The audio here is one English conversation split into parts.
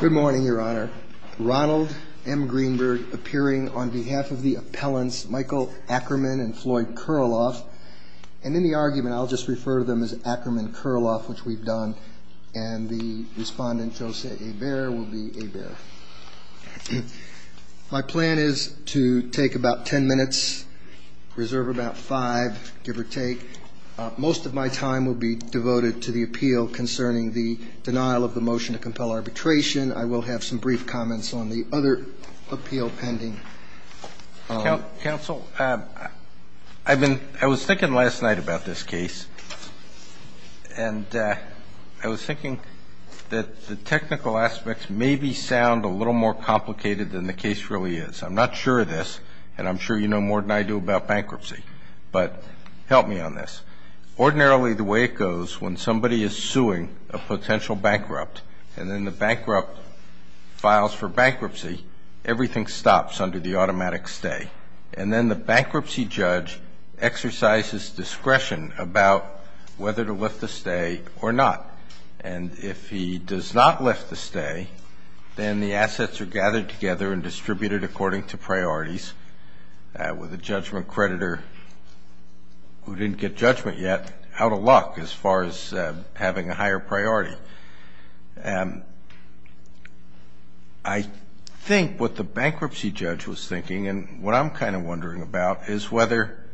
Good morning, Your Honor. Ronald M. Greenberg appearing on behalf of the appellants Michael Ackerman and Floyd Kurloff, and in the argument I'll just refer to them as Ackerman-Kurloff, which we've done, and the respondent Jose Eber will be Eber. My plan is to take about ten minutes, reserve about five, give or take. Most of my time will be devoted to the appeal concerning the denial of the arbitration. I will have some brief comments on the other appeal pending. Counsel, I've been, I was thinking last night about this case, and I was thinking that the technical aspects maybe sound a little more complicated than the case really is. I'm not sure of this, and I'm sure you know more than I do about bankruptcy, but help me on this. Ordinarily the way it goes when somebody is suing a potential bankrupt, and then the bankrupt files for bankruptcy, everything stops under the automatic stay, and then the bankruptcy judge exercises discretion about whether to lift the stay or not, and if he does not lift the stay, then the assets are gathered together and distributed according to priorities with a judgment creditor who didn't get judgment yet out of luck as far as having a higher priority. I think what the bankruptcy judge was thinking, and what I'm kind of wondering about, is whether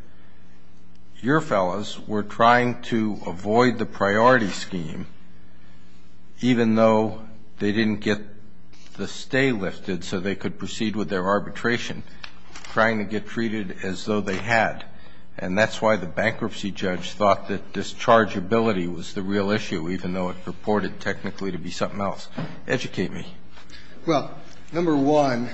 your fellas were trying to avoid the priority scheme even though they didn't get the stay lifted so they could proceed with their arbitration, trying to get treated as though they had. And that's why the bankruptcy judge thought that dischargeability was the real issue, even though it purported technically to be something else. Educate me. Well, number one,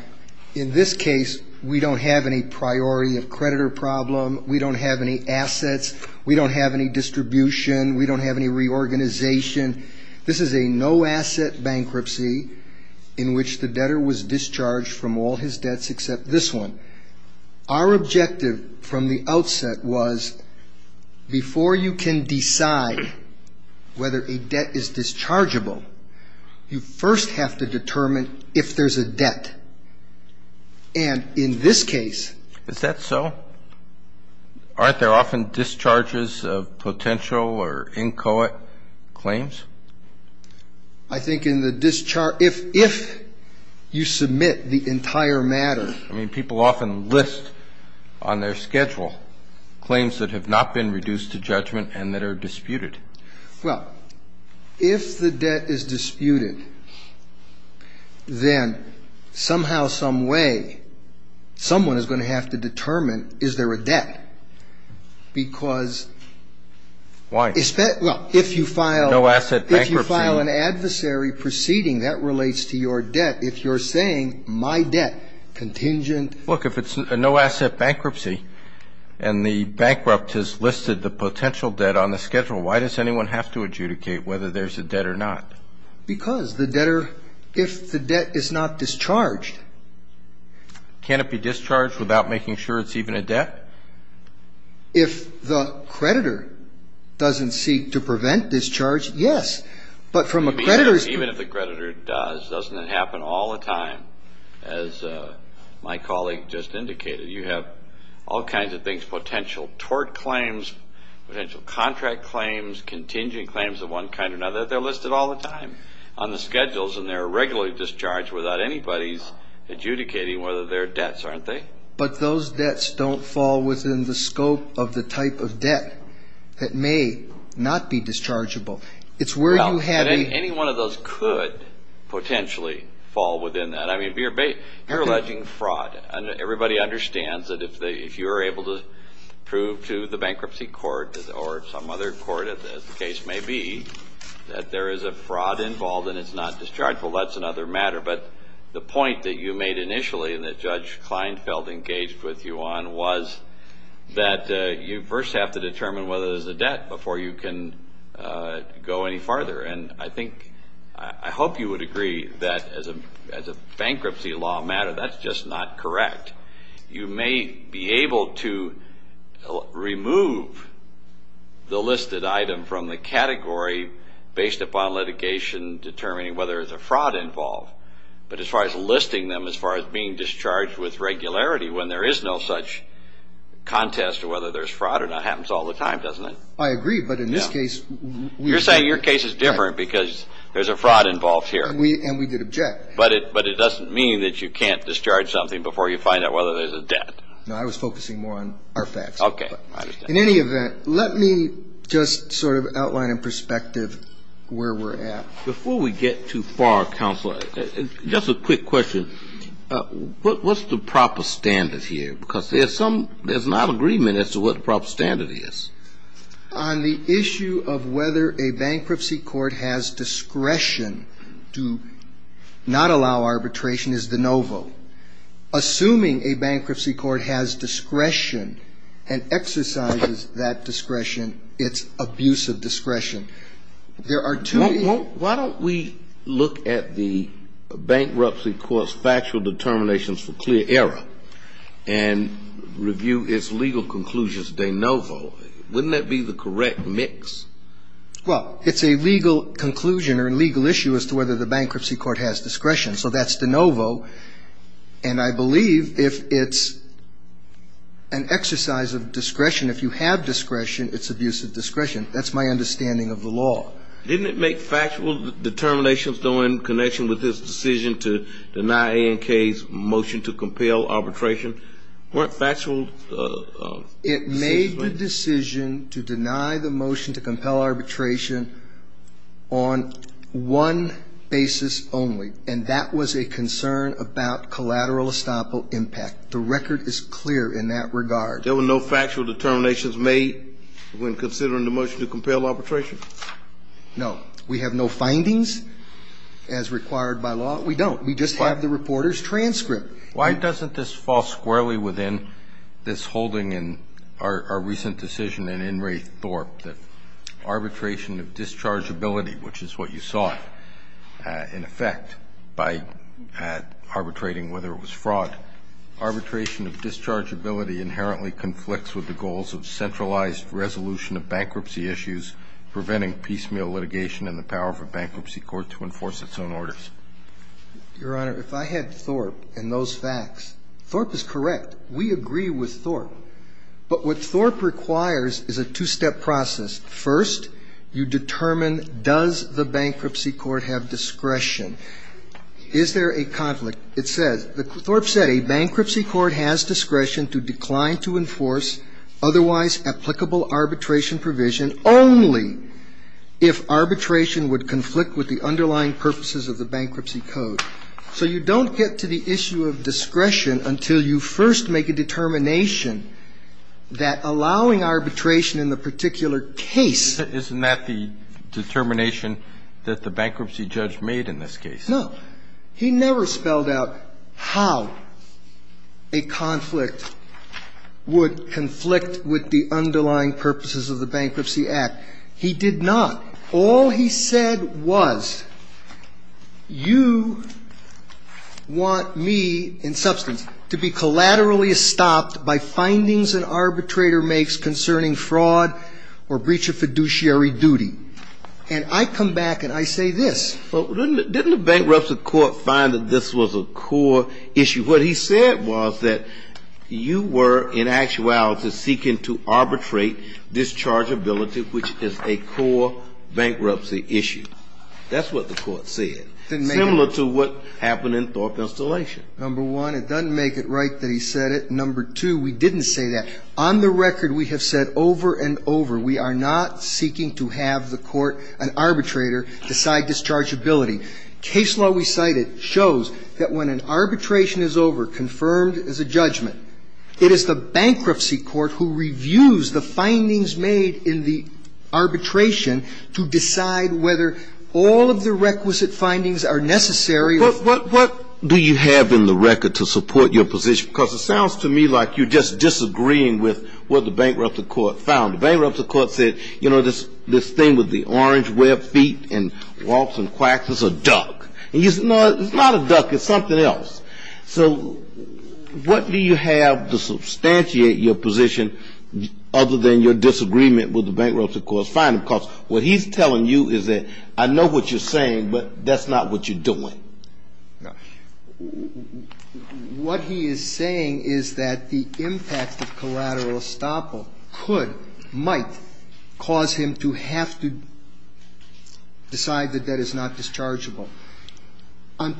in this case we don't have any priority of creditor problem. We don't have any assets. We don't have any distribution. We don't have any reorganization. This is a no-asset bankruptcy in which the debtor was from the outset was, before you can decide whether a debt is dischargeable, you first have to determine if there's a debt. And in this case... Is that so? Aren't there often discharges of potential or inchoate claims? I think in the discharge, if you submit the entire matter... I mean, people often list on their schedule claims that have not been reduced to judgment and that are disputed. Well, if the debt is disputed, then somehow, some way, someone is going to have to determine, is there a debt? Because... Why? If you file... No-asset bankruptcy. If you file an adversary proceeding that relates to your debt, if you're saying, my debt, contingent... Look, if it's a no-asset bankruptcy and the bankrupt has listed the potential debt on the schedule, why does anyone have to adjudicate whether there's a debt or not? Because the debtor, if the debt is not discharged... Can it be discharged without making sure it's even a debt? If the creditor doesn't seek to prevent discharge, yes. But from a creditor's... As my colleague just indicated, you have all kinds of things, potential tort claims, potential contract claims, contingent claims of one kind or another. They're listed all the time on the schedules and they're regularly discharged without anybody's adjudicating whether they're debts, aren't they? But those debts don't fall within the scope of the type of debt that may not be dischargeable. It's where you have a... You're alleging fraud. Everybody understands that if you're able to prove to the bankruptcy court or some other court, as the case may be, that there is a fraud involved and it's not dischargeable, that's another matter. But the point that you made initially and that Judge Kleinfeld engaged with you on was that you first have to determine whether there's a debt before you can go any farther. And I think, I hope you would agree that as a bankruptcy law matter, that's just not correct. You may be able to remove the listed item from the category based upon litigation determining whether there's a fraud involved. But as far as listing them, as far as being discharged with regularity when there is no such contest to whether there's fraud or not happens all the time, doesn't it? I agree, but in this case... You're saying your case is different because there's a fraud involved here. And we did object. But it doesn't mean that you can't discharge something before you find out whether there's a debt. No, I was focusing more on our facts. Okay. I understand. In any event, let me just sort of outline in perspective where we're at. Before we get too far, Counselor, just a quick question. What's the proper standard here? Because there's some, there's not agreement as to what the proper standard is. On the issue of whether a bankruptcy court has discretion to not allow arbitration is de novo. Assuming a bankruptcy court has discretion and exercises that discretion, it's abusive discretion. There are two... Why don't we look at the bankruptcy court's factual determinations for clear error and review its legal conclusions de novo. Wouldn't that be the correct mix? Well, it's a legal conclusion or a legal issue as to whether the bankruptcy court has discretion. So that's de novo. And I believe if it's an exercise of discretion, if you have discretion, it's abusive discretion. That's my understanding of the law. Didn't it make factual determinations though in connection with this decision to deny ANK's motion to compel arbitration? Weren't factual decisions made? It made the decision to deny the motion to compel arbitration on one basis only. And that was a concern about collateral estoppel impact. The record is clear in that regard. There were no factual determinations made when considering the motion to compel arbitration? No. We have no findings as required by law. We don't. We just have the reporter's transcript. Why doesn't this fall squarely within this holding in our recent decision in In re Thorp that arbitration of dischargeability, which is what you saw in effect by arbitrating whether it was fraud, arbitration of dischargeability inherently conflicts with the goals of centralized resolution of bankruptcy issues preventing piecemeal litigation and the power of a bankruptcy court to enforce its own orders? Your Honor, if I had Thorp and those facts, Thorp is correct. We agree with Thorp. But what Thorp requires is a two-step process. First, you determine does the bankruptcy court have discretion. Is there a conflict? It says, Thorp said a bankruptcy court has discretion to decline to enforce otherwise applicable arbitration provision only if arbitration would conflict with the underlying purposes of the bankruptcy code. So you don't get to the issue of discretion until you first make a determination that allowing arbitration in the particular case Isn't that the determination that the bankruptcy judge made in this case? No. He never spelled out how a conflict would conflict with the underlying purposes of the Bankruptcy Act. He did not. All he said was, you want me, in substance, to be collaterally stopped by findings an arbitrator makes concerning fraud or breach of fiduciary duty. And I come back and I say this. Didn't the bankruptcy court find that this was a core issue? What he said was that you were, in actuality, seeking to arbitrate dischargeability, which is a core bankruptcy issue. That's what the court said, similar to what happened in Thorp installation. Number one, it doesn't make it right that he said it. Number two, we didn't say that. On the record, we have said over and over, we are not seeking to have the court, an arbitrator, decide dischargeability. Case law we cited shows that when an arbitration is over, confirmed as a judgment, it is the bankruptcy court who reviews the findings made in the arbitration to decide whether all of the requisite findings are necessary or not. What do you have in the record to support your position? Because it sounds to me like you're just disagreeing with what the bankruptcy court found. The bankruptcy court said, you know, this thing with the orange web feet and waltz and quacks is a duck. He said, no, it's not a duck. It's something else. So what do you have to substantiate your position other than your disagreement with the bankruptcy court's finding? Because what he's telling you is that I know what you're saying, but that's not what you're doing. What he is saying is that the impact of collateral estoppel could, might, cause him to have to decide that that is not dischargeable. Let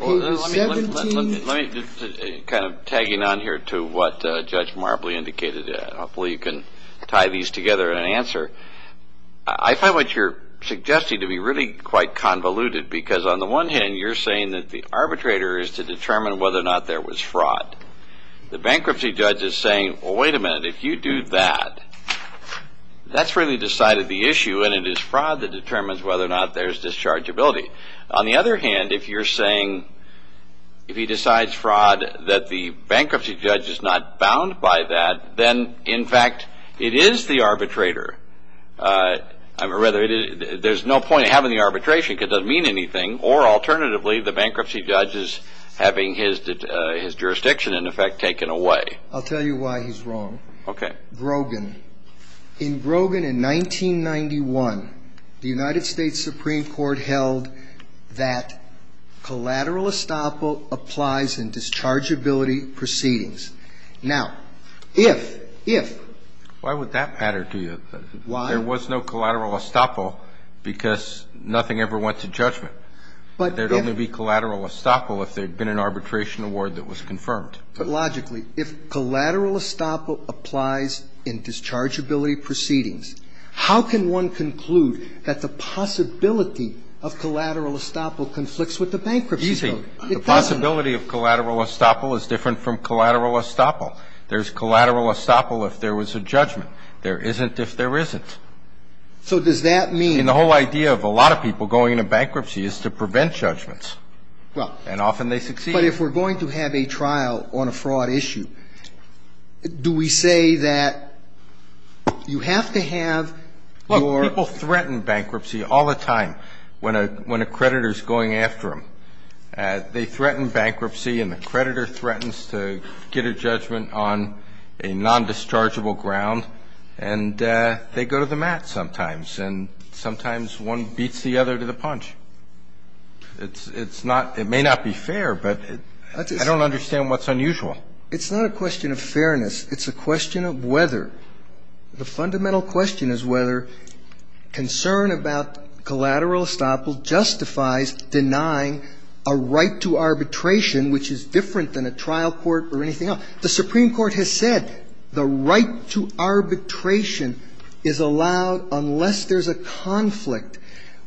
me, kind of tagging on here to what Judge Marbley indicated, hopefully you can tie these together in an answer. I find what you're suggesting to be really quite convoluted because on the one hand, you're saying that the arbitrator is to determine whether or not there was fraud. The bankruptcy judge is saying, well, wait a minute, if you do that, that's really decided the issue and it is fraud that determines whether or not there's dischargeability. On the other hand, if you're saying, if he decides fraud that the bankruptcy judge is not bound by that, then in fact, it is the arbitrator. There's no point in having the arbitration because it doesn't mean anything, or alternatively, the bankruptcy judge is having his jurisdiction in effect taken away. I'll tell you why he's wrong. Okay. Brogan. In Brogan in 1991, the United States Supreme Court held that collateral estoppel applies in dischargeability proceedings. Now, if, if... Why would that matter to you? Why? There was no collateral estoppel because nothing ever went to judgment. But... There'd only be collateral estoppel if there'd been an arbitration award that was confirmed. But logically, if collateral estoppel applies in dischargeability proceedings, how can one conclude that the possibility of collateral estoppel conflicts with the bankruptcy code? It doesn't. Easy. The possibility of collateral estoppel is different from collateral estoppel. There's collateral estoppel if there was a judgment. There isn't if there isn't. So does that mean... And the whole idea of a lot of people going into bankruptcy is to prevent judgments. And often they succeed. But if we're going to have a trial on a fraud issue, do we say that you have to have your... Look, people threaten bankruptcy all the time when a creditor's going after them. They threaten bankruptcy and the creditor threatens to get a judgment on a non-dischargeable ground. And they go to the mat sometimes. And sometimes one beats the other to the punch. It's not... It may not be fair, but I don't understand what's unusual. It's not a question of fairness. It's a question of whether. The fundamental question is whether concern about collateral estoppel justifies denying a right to arbitration, which is different than a trial court or anything else. The Supreme Court has said the right to arbitration is allowed unless there's a conflict.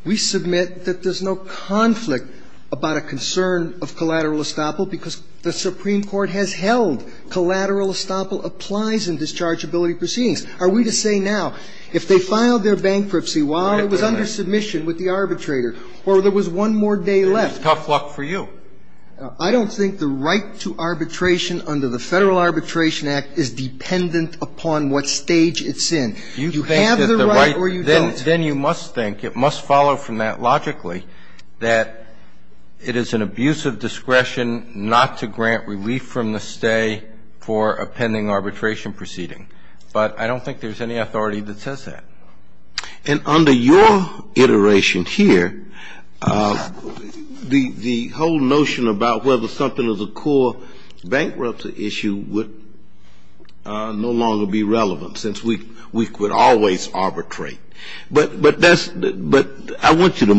We submit that there's no conflict about a concern of collateral estoppel because the Supreme Court has held collateral estoppel applies in dischargeability proceedings. Are we to say now if they filed their bankruptcy while it was under submission with the arbitrator or there was one more day left... It would be tough luck for you. I don't think the right to arbitration under the Federal Arbitration Act is dependent upon what stage it's in. You have the right or you don't. Then you must think, it must follow from that logically, that it is an abuse of discretion not to grant relief from the stay for a pending arbitration proceeding. But I don't think there's any authority that says that. And under your iteration here, the whole notion about whether something is a core bankruptcy issue would no longer be relevant since we could always arbitrate. But I want you to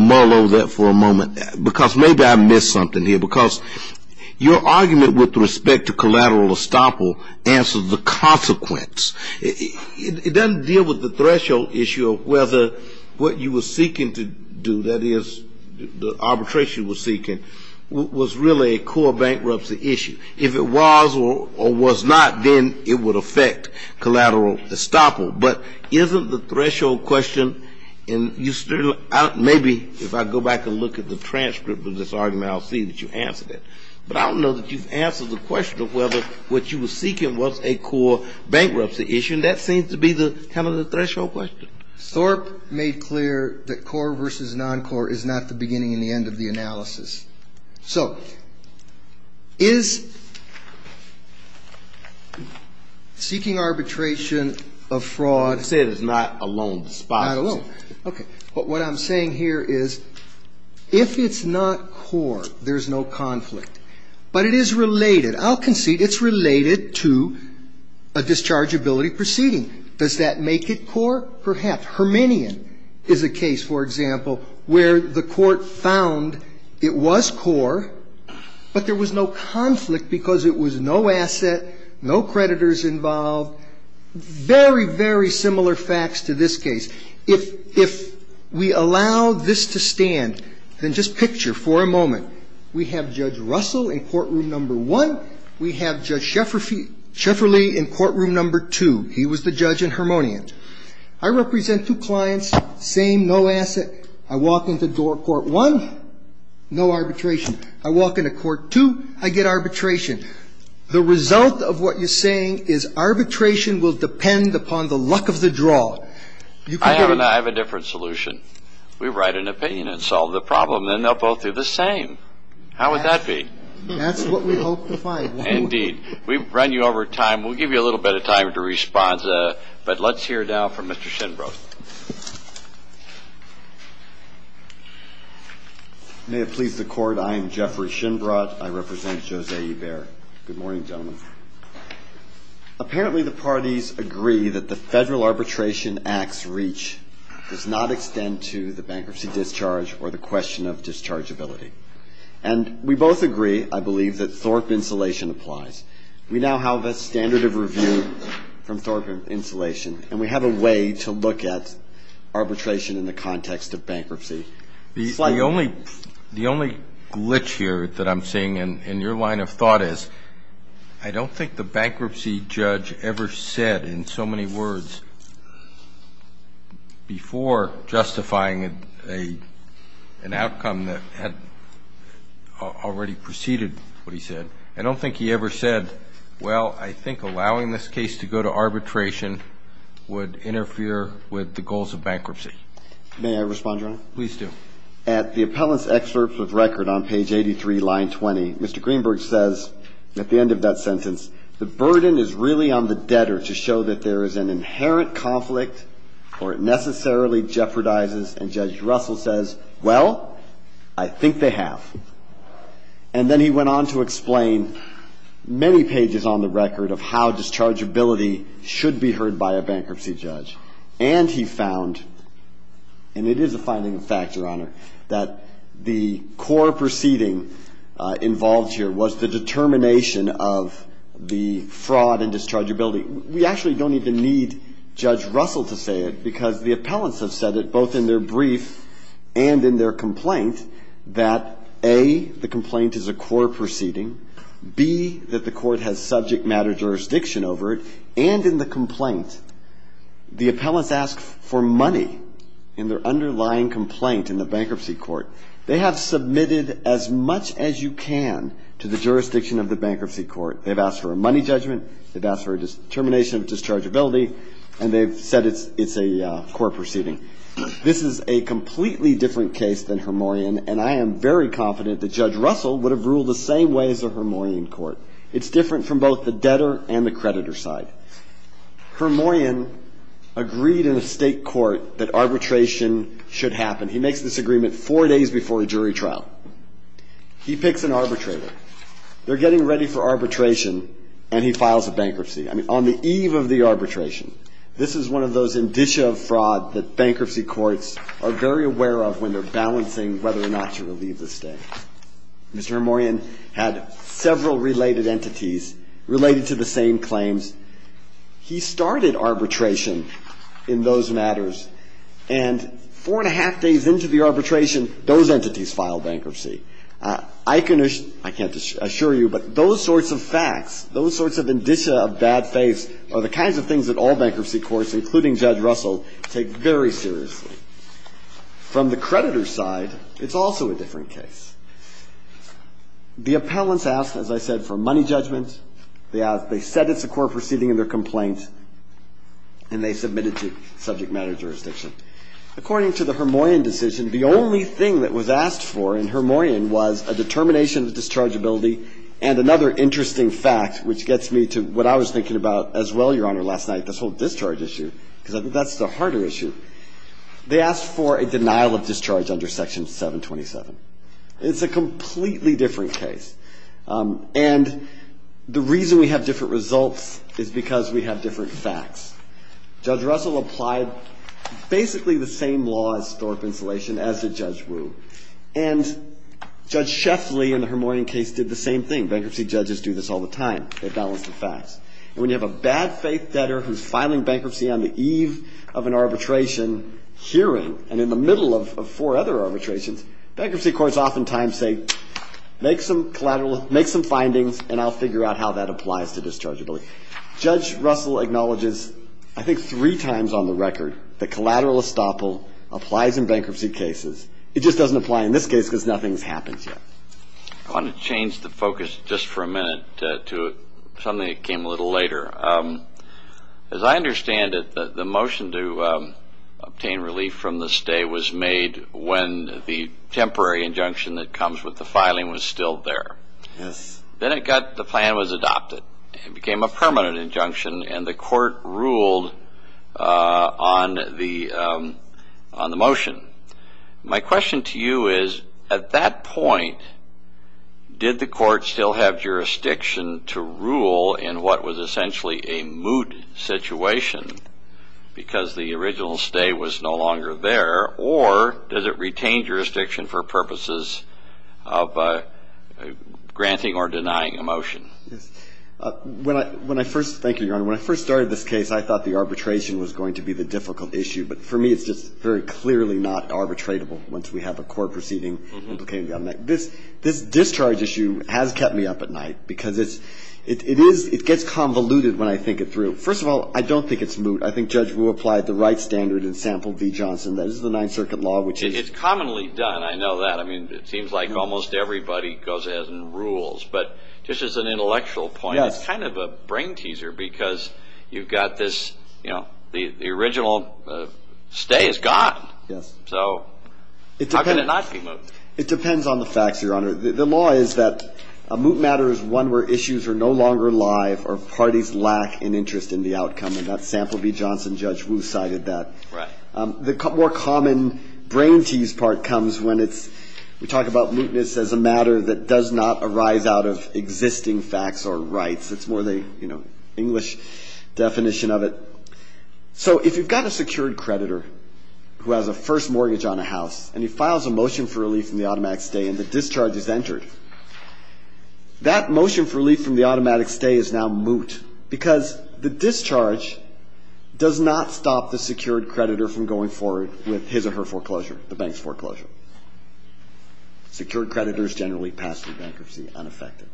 your argument with respect to collateral estoppel answers the consequence. It doesn't deal with the threshold issue of whether what you were seeking to do, that is, the arbitration you were seeking, was really a core bankruptcy issue. If it was or was not, then it would affect collateral estoppel. But isn't the threshold question, and you still, maybe if I go back and look at the transcript of this argument, I'll see that you answered it. But I don't know that you've answered the question of whether what you were seeking was a core bankruptcy issue. And that seems to be the kind of the threshold question. Thorpe made clear that core versus non-core is not the beginning and the end of the analysis. So, is seeking arbitration of fraud You said it's not a loan despised. It's not a loan. Okay. But what I'm saying here is if it's not core, there's no conflict. But it is related. I'll concede it's related to a dischargeability proceeding. Does that make it core? Perhaps. Herminion is a case, for example, where the court found it was core, but there was no conflict because it was no asset, no creditors involved. Very, very similar facts to this case. If we allow this to stand, then just picture for a moment. We have Judge Russell in courtroom number one. We have Judge Shefferly in courtroom number two. He was the judge in Herminion. I represent two clients, same, no asset. I walk into door court one, no arbitration. I walk into court two, I get arbitration. The result of what you're saying is arbitration will depend upon the luck of the draw. I have a different solution. If we write an opinion and solve the problem, then they'll both do the same. How would that be? That's what we hope to find. Indeed. We've run you over time. We'll give you a little bit of time to respond. But let's hear now from Mr. Shinbroth. May it please the Court, I am Jeffrey Shinbroth. I represent Jose Eber. Good morning, gentlemen. Apparently, the parties agree that the federal arbitration act's reach does not extend to the bankruptcy discharge or the question of dischargeability. And we both agree, I believe, that Thorpe insulation applies. We now have a standard of review from Thorpe insulation, and we have a way to look at arbitration in the context of bankruptcy. The only glitch here that I'm seeing in your line of thought is, I don't think the bankruptcy judge ever said in so many words before justifying an outcome that had already preceded what he said, I don't think he ever said, well, I think allowing this case to go to arbitration would interfere with the goals of bankruptcy. May I respond, Your Honor? Please do. At the appellant's excerpt with record on page 83, line 20, Mr. Greenberg says at the end of that sentence, the burden is really on the debtor to show that there is an inherent conflict or it necessarily jeopardizes. And Judge Russell says, well, I think they have. And then he went on to explain many pages on the record of how dischargeability should be heard by a bankruptcy judge. And he found, and it is a finding of fact, Your Honor, that the core proceeding involved here was the determination of the fraud and dischargeability. We actually don't even need Judge Russell to say it, because the appellants have said it, both in their brief and in their complaint, that, A, the complaint is a core proceeding, B, that the court has subject matter jurisdiction over it, and in the complaint, the appellants ask for money in their underlying complaint in the bankruptcy court. They have submitted as much as you can to the jurisdiction of the bankruptcy court. They've asked for a money judgment. They've asked for a determination of dischargeability. And they've said it's a core proceeding. This is a completely different case than Hermoyan, and I am very confident that Judge Russell would have ruled the same way as a Hermoyan court. It's different from both the debtor and the creditor side. Hermoyan agreed in a state court that arbitration should happen. He makes this agreement four days before a jury trial. He picks an arbitrator. They're getting ready for arbitration, and he files a bankruptcy. I mean, on the eve of the arbitration. This is one of those indicia of fraud that bankruptcy courts are very aware of when they're balancing whether or not to do something. But in the case of Hermoyan, he had several related entities related to the same claims. He started arbitration in those matters, and four and a half days into the arbitration, those entities filed bankruptcy. I can assure you, but those sorts of facts, those sorts of indicia of bad faiths are the kinds of things that all bankruptcy courts, including Judge Russell, take very seriously. From the creditor's side, it's also a different case. The appellants asked, as I said, for money judgment. They said it's a court proceeding in their complaint, and they submitted to subject matter jurisdiction. According to the Hermoyan decision, the only thing that was asked for in Hermoyan was a determination of dischargeability and another interesting fact, which gets me to what I was thinking about as well, Your Honor, last night, this whole discharge issue, because that's the harder issue. They asked for a denial of discharge under Section 727. It's a completely different case, and the reason we have different results is because we have different facts. Judge Russell applied basically the same law as Thorpe Insulation as did Judge Wu, and Judge Sheffley in the Hermoyan case did the same thing. Bankruptcy judges do this all the time. They balance the facts. And when you have a bad faith debtor who's filing bankruptcy on the eve of an arbitration hearing and in the middle of four other arbitrations, bankruptcy courts oftentimes say, make some findings, and I'll figure out how that applies to dischargeability. Judge Russell acknowledges, I think three times on the record, that collateral estoppel applies in bankruptcy cases. It just doesn't apply in this case because nothing's happened yet. I want to change the focus just for a minute to something that came a little later. As I understand it, the motion to obtain relief from the stay was made when the temporary injunction that comes with the filing was still there. Yes. Then the plan was adopted. It became a permanent injunction, and the court ruled on the motion. My question to you is, at that point, did the court still have jurisdiction to rule in what was essentially a moot situation because the original stay was no longer there, or does it retain jurisdiction for purposes of granting or denying a motion? Thank you, Your Honor. When I first started this case, I thought the arbitration was going to be the difficult issue. But for me, it's just very clearly not arbitratable once we have a court proceeding implicating the other night. This discharge issue has kept me up at night because it gets convoluted when I think it through. First of all, I don't think it's moot. I think Judge Rue applied the right standard and sampled V. Johnson. That is the Ninth Circuit law, which is... It's commonly done. I know that. It seems like almost everybody goes ahead and rules. But just as an intellectual point, it's kind of a brain teaser because you've got this – the original stay is gone, so how can it not be moot? It depends on the facts, Your Honor. The law is that a moot matter is one where issues are no longer alive or parties lack an interest in the outcome. And that sampled V. Johnson Judge Rue cited that. Right. The more common brain tease part comes when it's – we talk about mootness as a matter that does not arise out of existing facts or rights. It's more the, you know, English definition of it. So if you've got a secured creditor who has a first mortgage on a house and he files a motion for relief from the automatic stay and the discharge is entered, that motion for relief from the automatic stay is now moot because the discharge does not stop the secured creditor from going forward with his or her foreclosure, the bank's foreclosure. Secured creditors generally pass through bankruptcy unaffected.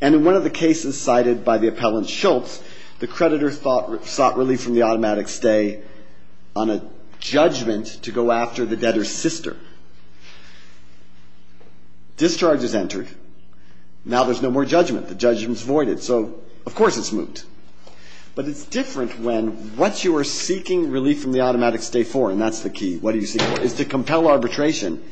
And in one of the cases cited by the appellant Shultz, the creditor sought relief from the sister. Discharge is entered. Now there's no more judgment. The judgment's voided. So of course it's moot. But it's different when what you are seeking relief from the automatic stay for, and that's the key, what do you seek for, is to compel arbitration.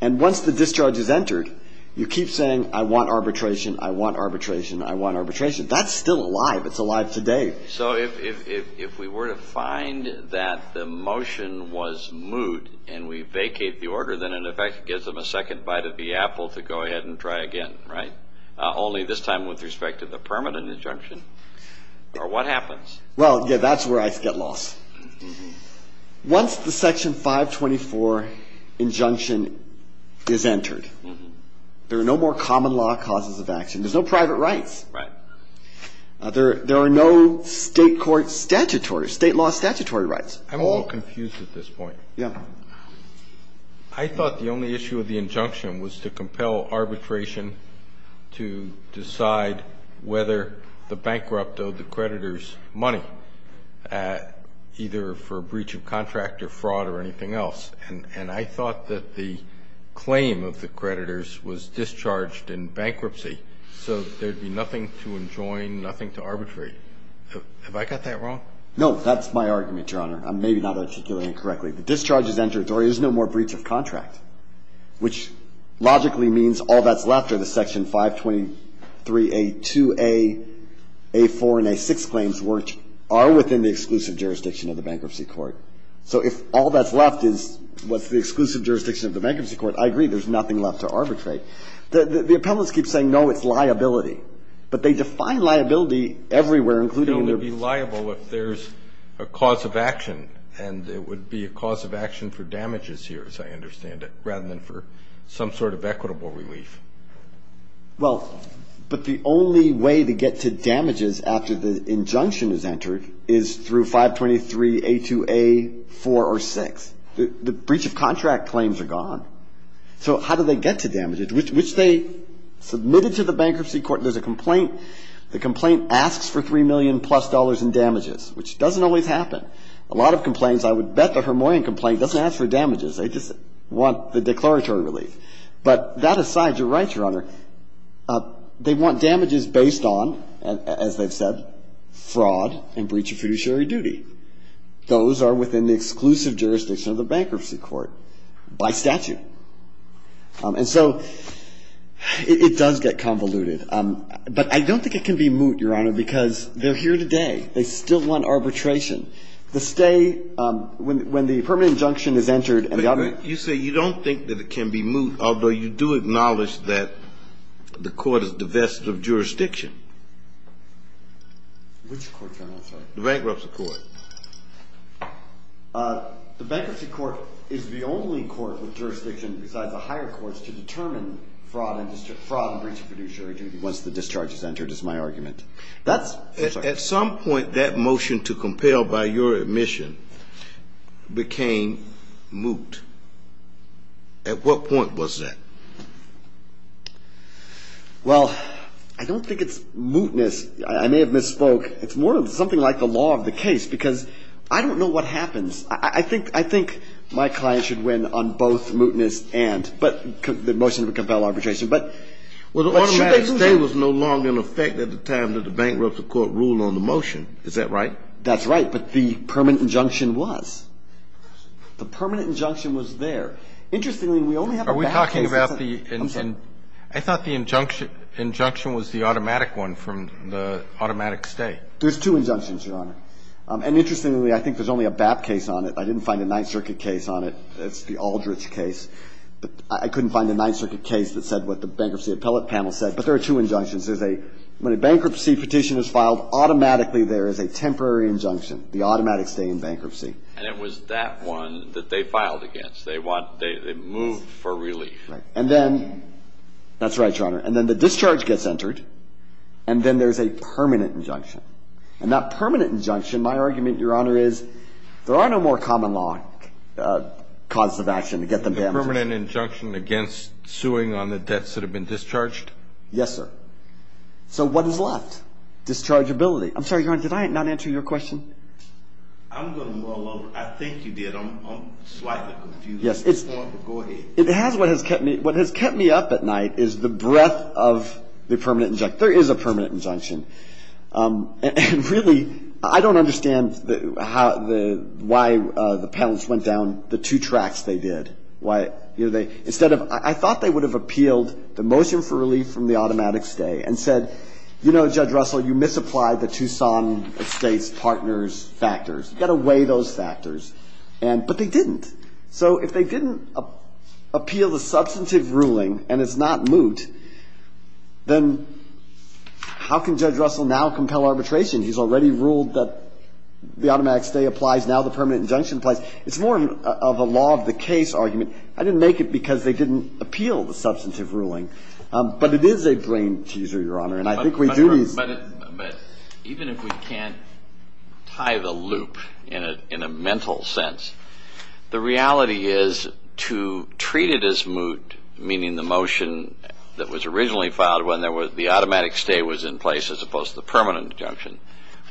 And once the discharge is entered, you keep saying, I want arbitration, I want arbitration, I want arbitration. That's still alive. It's alive today. So if we were to find that the motion was moot and we vacate the order, then in effect it gives them a second bite of the apple to go ahead and try again, right? Only this time with respect to the permanent injunction? Or what happens? Well yeah, that's where I get lost. Once the Section 524 injunction is entered, there are no more common law causes of action. There's no private rights. There are no state court statutory, state law statutory rights. I'm a little confused at this point. I thought the only issue of the injunction was to compel arbitration to decide whether the bankrupt owed the creditors money, either for breach of contract or fraud or anything else. And I thought that the claim of the creditors was discharged in bankruptcy, so there would be nothing to enjoin, nothing to arbitrate. Have I got that wrong? No. That's my argument, Your Honor. I'm maybe not articulating it correctly. The discharge is entered, there is no more breach of contract, which logically means all that's left are the Section 523A2A, A4, and A6 claims which are within the exclusive jurisdiction of the Bankruptcy Court. So if all that's left is a breach of contract, which is what's the exclusive jurisdiction of the Bankruptcy Court, I agree, there's nothing left to arbitrate. The appellants keep saying, no, it's liability. But they define liability everywhere, including in their briefs. It would only be liable if there's a cause of action, and it would be a cause of action for damages here, as I understand it, rather than for some sort of equitable relief. Well, but the only way to get to damages after the injunction is entered is through Section 523A2A, A4, or A6. The breach of contract claims are gone. So how do they get to damages? Which they submitted to the Bankruptcy Court. There's a complaint. The complaint asks for $3 million plus in damages, which doesn't always happen. A lot of complaints, I would bet the Hermoyan complaint doesn't ask for damages. They just want the declaratory relief. But that aside, you're right, Your Honor, they want damages based on, as they've said, fraud and breach of fiduciary duty. Those are within the exclusive jurisdiction of the Bankruptcy Court by statute. And so it does get convoluted. But I don't think it can be moot, Your Honor, because they're here today. They still want arbitration. The stay, when the permanent injunction is entered and the other one goes to court, it's still arbitration. But you say you don't think that it can be moot, although you do acknowledge that the court is divested of jurisdiction. Which court, Your Honor? The Bankruptcy Court. The Bankruptcy Court is the only court with jurisdiction besides the higher courts to determine fraud and breach of fiduciary duty once the discharge is entered, is my argument. At some point, that motion to compel by your admission became moot. At what point was that? Well, I don't think it's mootness. I may have misspoke. It's more of something like the law of the case, because I don't know what happens. I think my client should win on both mootness and the motion to compel arbitration. Well, Your Honor, the stay was no longer in effect at the time that the Bankruptcy Court ruled on the motion. Is that right? That's right. But the permanent injunction was. The permanent injunction was there. Interestingly, we only have a BAP case. I thought the injunction was the automatic one from the automatic stay. There's two injunctions, Your Honor. And interestingly, I think there's only a BAP case on it. I didn't find a Ninth Circuit case on it. That's the Aldrich case. But I couldn't find a Ninth Circuit case that said what the Bankruptcy Appellate Panel said. But there are two injunctions. When a bankruptcy petition is filed, automatically there is a temporary injunction, the automatic stay in bankruptcy. And it was that one that they filed against. They moved for relief. Right. And then, that's right, Your Honor, and then the discharge gets entered, and then there's a permanent injunction. And that permanent injunction, my argument, Your Honor, is there are no more common law causes of action to get them to amputate. Is there a permanent injunction against suing on the debts that have been discharged? Yes, sir. So what is left? Dischargeability. I'm sorry, Your Honor, did I not answer your question? I'm going to mull over. I think you did. I'm slightly confused. Go ahead. What has kept me up at night is the breadth of the permanent injunction. There is a permanent injunction. And really, I don't understand why the panelists went down the two tracks they did. I thought they would have appealed the motion for relief from the automatic stay and said, you know, Judge Russell, you misapplied the Tucson Estates Partners factors. You've got to weigh those factors. But they didn't. So if they didn't appeal the substantive ruling, and it's not moot, then how can Judge Russell now compel arbitration? He's already ruled that the automatic stay applies. Now the permanent injunction applies. It's more of a law of the case argument. I didn't make it because they didn't appeal the substantive ruling. But it is a brain teaser, Your Honor. But even if we can't tie the loop in a mental sense, the reality is to treat it as moot, meaning the motion that was originally filed when the automatic stay was in place as opposed to the permanent injunction,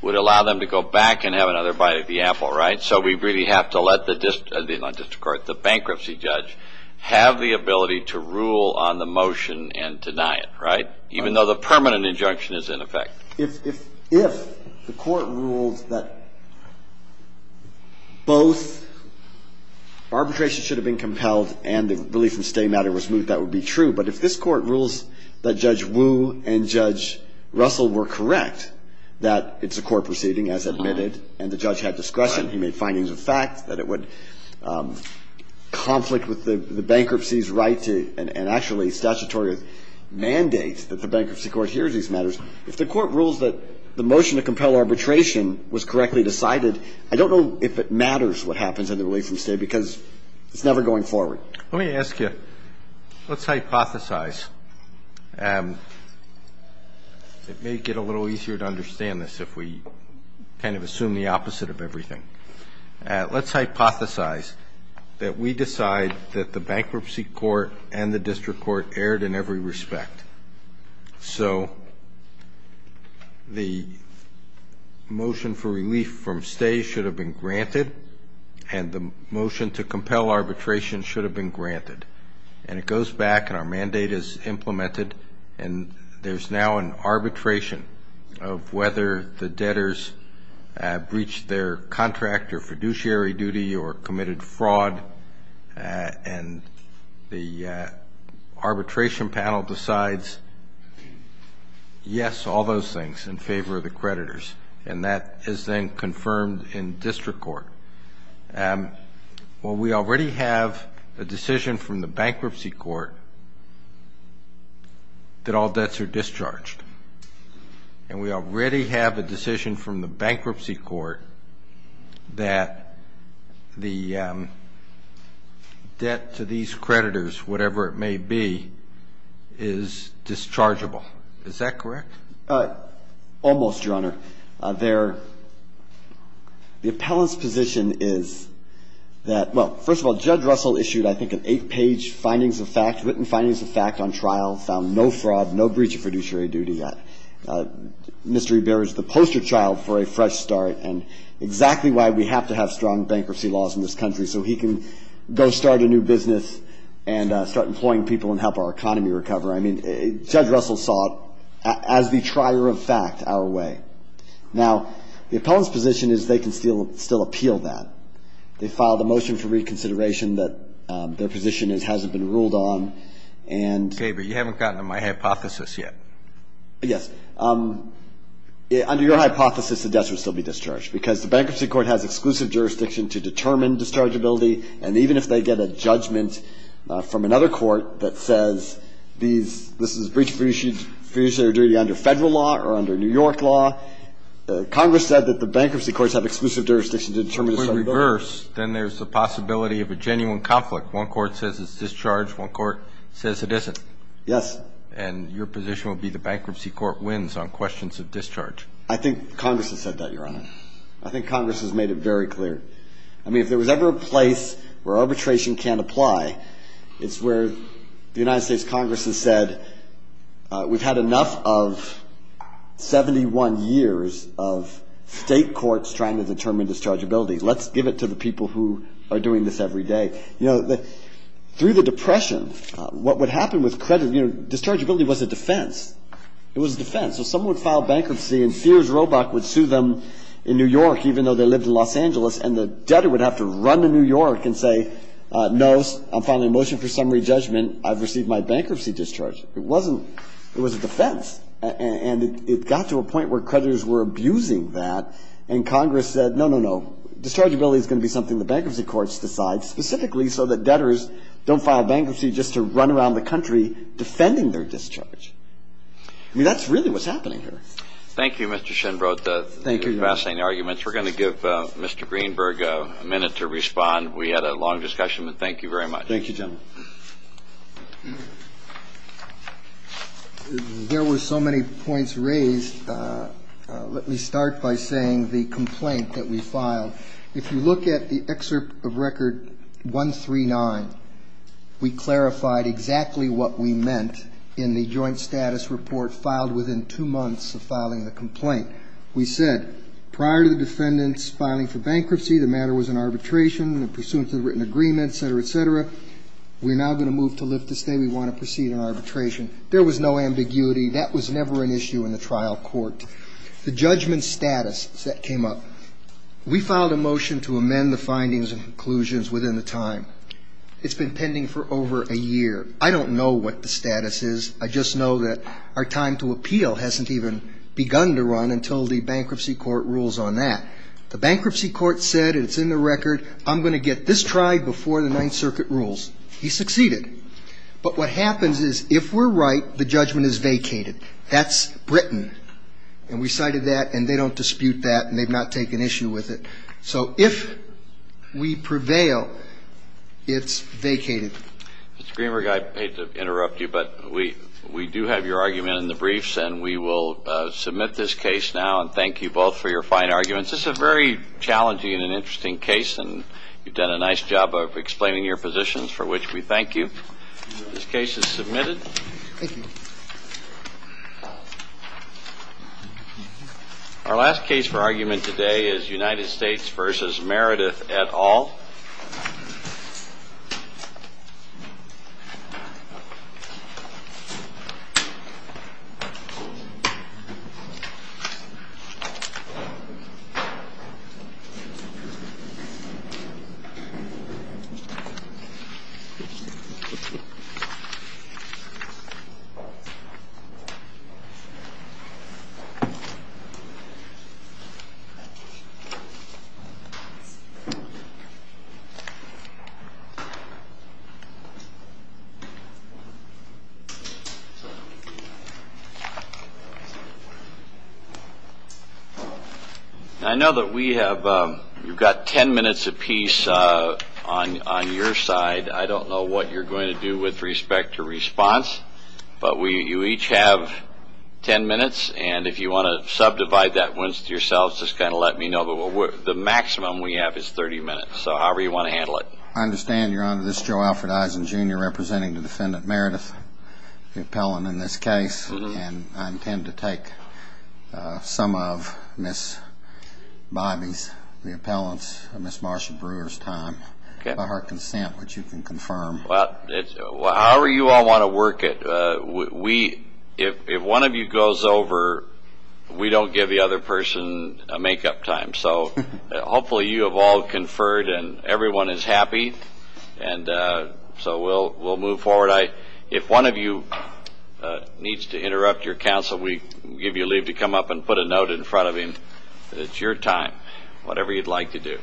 would allow them to go back and have another bite of the apple, right? So we really have to let the bankruptcy judge have the ability to rule on the motion and deny it, right? Even though the permanent injunction is in effect. If the court ruled that both arbitration should have been compelled and the belief in stay matter was moot, that would be true. But if this court rules that Judge Wu and Judge Russell were correct, that it's a court proceeding, as admitted, and the judge had discretion, he made findings of fact that it would conflict with the bankruptcy's right to, and actually statutory mandate that the bankruptcy court hears these matters. If the court rules that the motion to compel arbitration was correctly decided, I don't know if it matters what happens under the belief in stay because it's never going forward. Let me ask you, let's hypothesize. It may get a little easier to understand this if we kind of assume the opposite of everything. Let's hypothesize that we decide that the bankruptcy court and the district court erred in every respect. The motion for relief from stay should have been granted and the motion to compel arbitration should have been granted. And it goes back and our mandate is implemented and there's now an arbitration of whether the debtors breached their contract or fiduciary duty or committed fraud and the arbitration panel decides yes, all those things in favor of the creditors and that is then confirmed in district court. We already have a decision from the bankruptcy court that all debts are discharged and we already have a decision from the bankruptcy court that the debt to these creditors, whatever it may be, is dischargeable. Is that correct? Almost, Your Honor. The appellant's position is that, well, first of all, Judge Russell issued I think an eight-page findings of fact, written findings of fact on trial, found no fraud, no breach of fiduciary duty. Mr. Ebert is the poster child for a fresh start and exactly why we have to have strong bankruptcy laws in this country so he can go start a new business and start employing people and help our economy recover. I mean, Judge Russell saw it as the trier of fact our way. Now, the appellant's position is they can still appeal that. They filed a motion for reconsideration that their position hasn't been ruled on and Okay, but you haven't gotten to my hypothesis yet. Yes. Under your hypothesis, the debts would still be discharged because the bankruptcy court has exclusive jurisdiction to determine dischargeability and even if they get a judgment from another court that says this is breach of fiduciary duty under federal law or under New York law, Congress said that the bankruptcy courts have exclusive jurisdiction to determine dischargeability. If we reverse, then there's a possibility of a genuine conflict. One court says it's discharged, one court says it isn't. Yes. And your position would be the bankruptcy court wins on questions of discharge. I think Congress has said that, I think Congress has made it very clear. I mean, if there was ever a place where arbitration can't apply, it's where the United States Congress has said we've had enough of 71 years of state courts trying to determine dischargeability. Let's give it to the people who are doing this every day. Through the Depression, what would happen with credit, dischargeability was a defense. It was a defense. So someone would file bankruptcy and Sears Roebuck would sue them in New York even though they lived in Los Angeles and the debtor would have to run to New York and say no, I'm filing a motion for summary judgment, I've received my bankruptcy discharge. It wasn't it was a defense. And it got to a point where creditors were abusing that and Congress said no, no, no, dischargeability is going to be something the bankruptcy courts decide specifically so that debtors don't file bankruptcy just to run around the country defending their discharge. I mean, that's really what's happening here. We're going to give Mr. Greenberg a minute to respond. We had a long discussion, but thank you very much. There were so many points raised. Let me start by saying the complaint that we filed. If you look at the excerpt of Record 139, we clarified exactly what we meant in the joint status report filed within two months of filing the complaint. We said prior to the defendants filing for bankruptcy, the matter was in arbitration, pursuant to the written agreement, et cetera, et cetera. We're now going to move to live to stay. We want to proceed in arbitration. There was no ambiguity. That was never an issue in the trial court. The judgment status that came up. We filed a motion to amend the findings and conclusions within the time. It's been pending for over a year. I don't know what the status is. I just know that our time to appeal hasn't even begun to run until the bankruptcy court rules on that. The bankruptcy court said, and it's in the record, I'm going to get this tried before the Ninth Circuit rules. He succeeded. But what happens is if we're right, the judgment is vacated. That's Britain. And we cited that, and they don't dispute that, and they've not taken issue with it. So if we prevail, it's vacated. Mr. Greenberg, I hate to interrupt you, but we do have your argument in the briefs, and we will submit this case now and thank you both for your fine arguments. This is a very challenging and an interesting case, and you've done a nice job of explaining your positions, for which we thank you. This case is submitted. Thank you. Our last case for argument today is United States v. Meredith et al. Thank you. I know that we have ten minutes apiece on your side. I don't know what you're going to do with respect to response, but you each have ten minutes, and if you want to subdivide that wince to yourselves, just kind of let me know. The maximum we have is 30 minutes, so however you want to handle it. I understand, Your Honor. This is Joe Alfred Eisen, Jr., representing the defendant Meredith, the appellant in this case, and I intend to take some of Ms. Bobbie's, the appellant's, and Ms. Marsha Brewer's time by her consent, which you can confirm. Well, however you all want to work it, if one of you goes over, we don't give the other person a make-up time, so hopefully you have all conferred and everyone is happy, and so we'll move forward. If one of you needs to interrupt your counsel, we give you leave to come up and put a note in front of him that it's your time, whatever you'd like to do.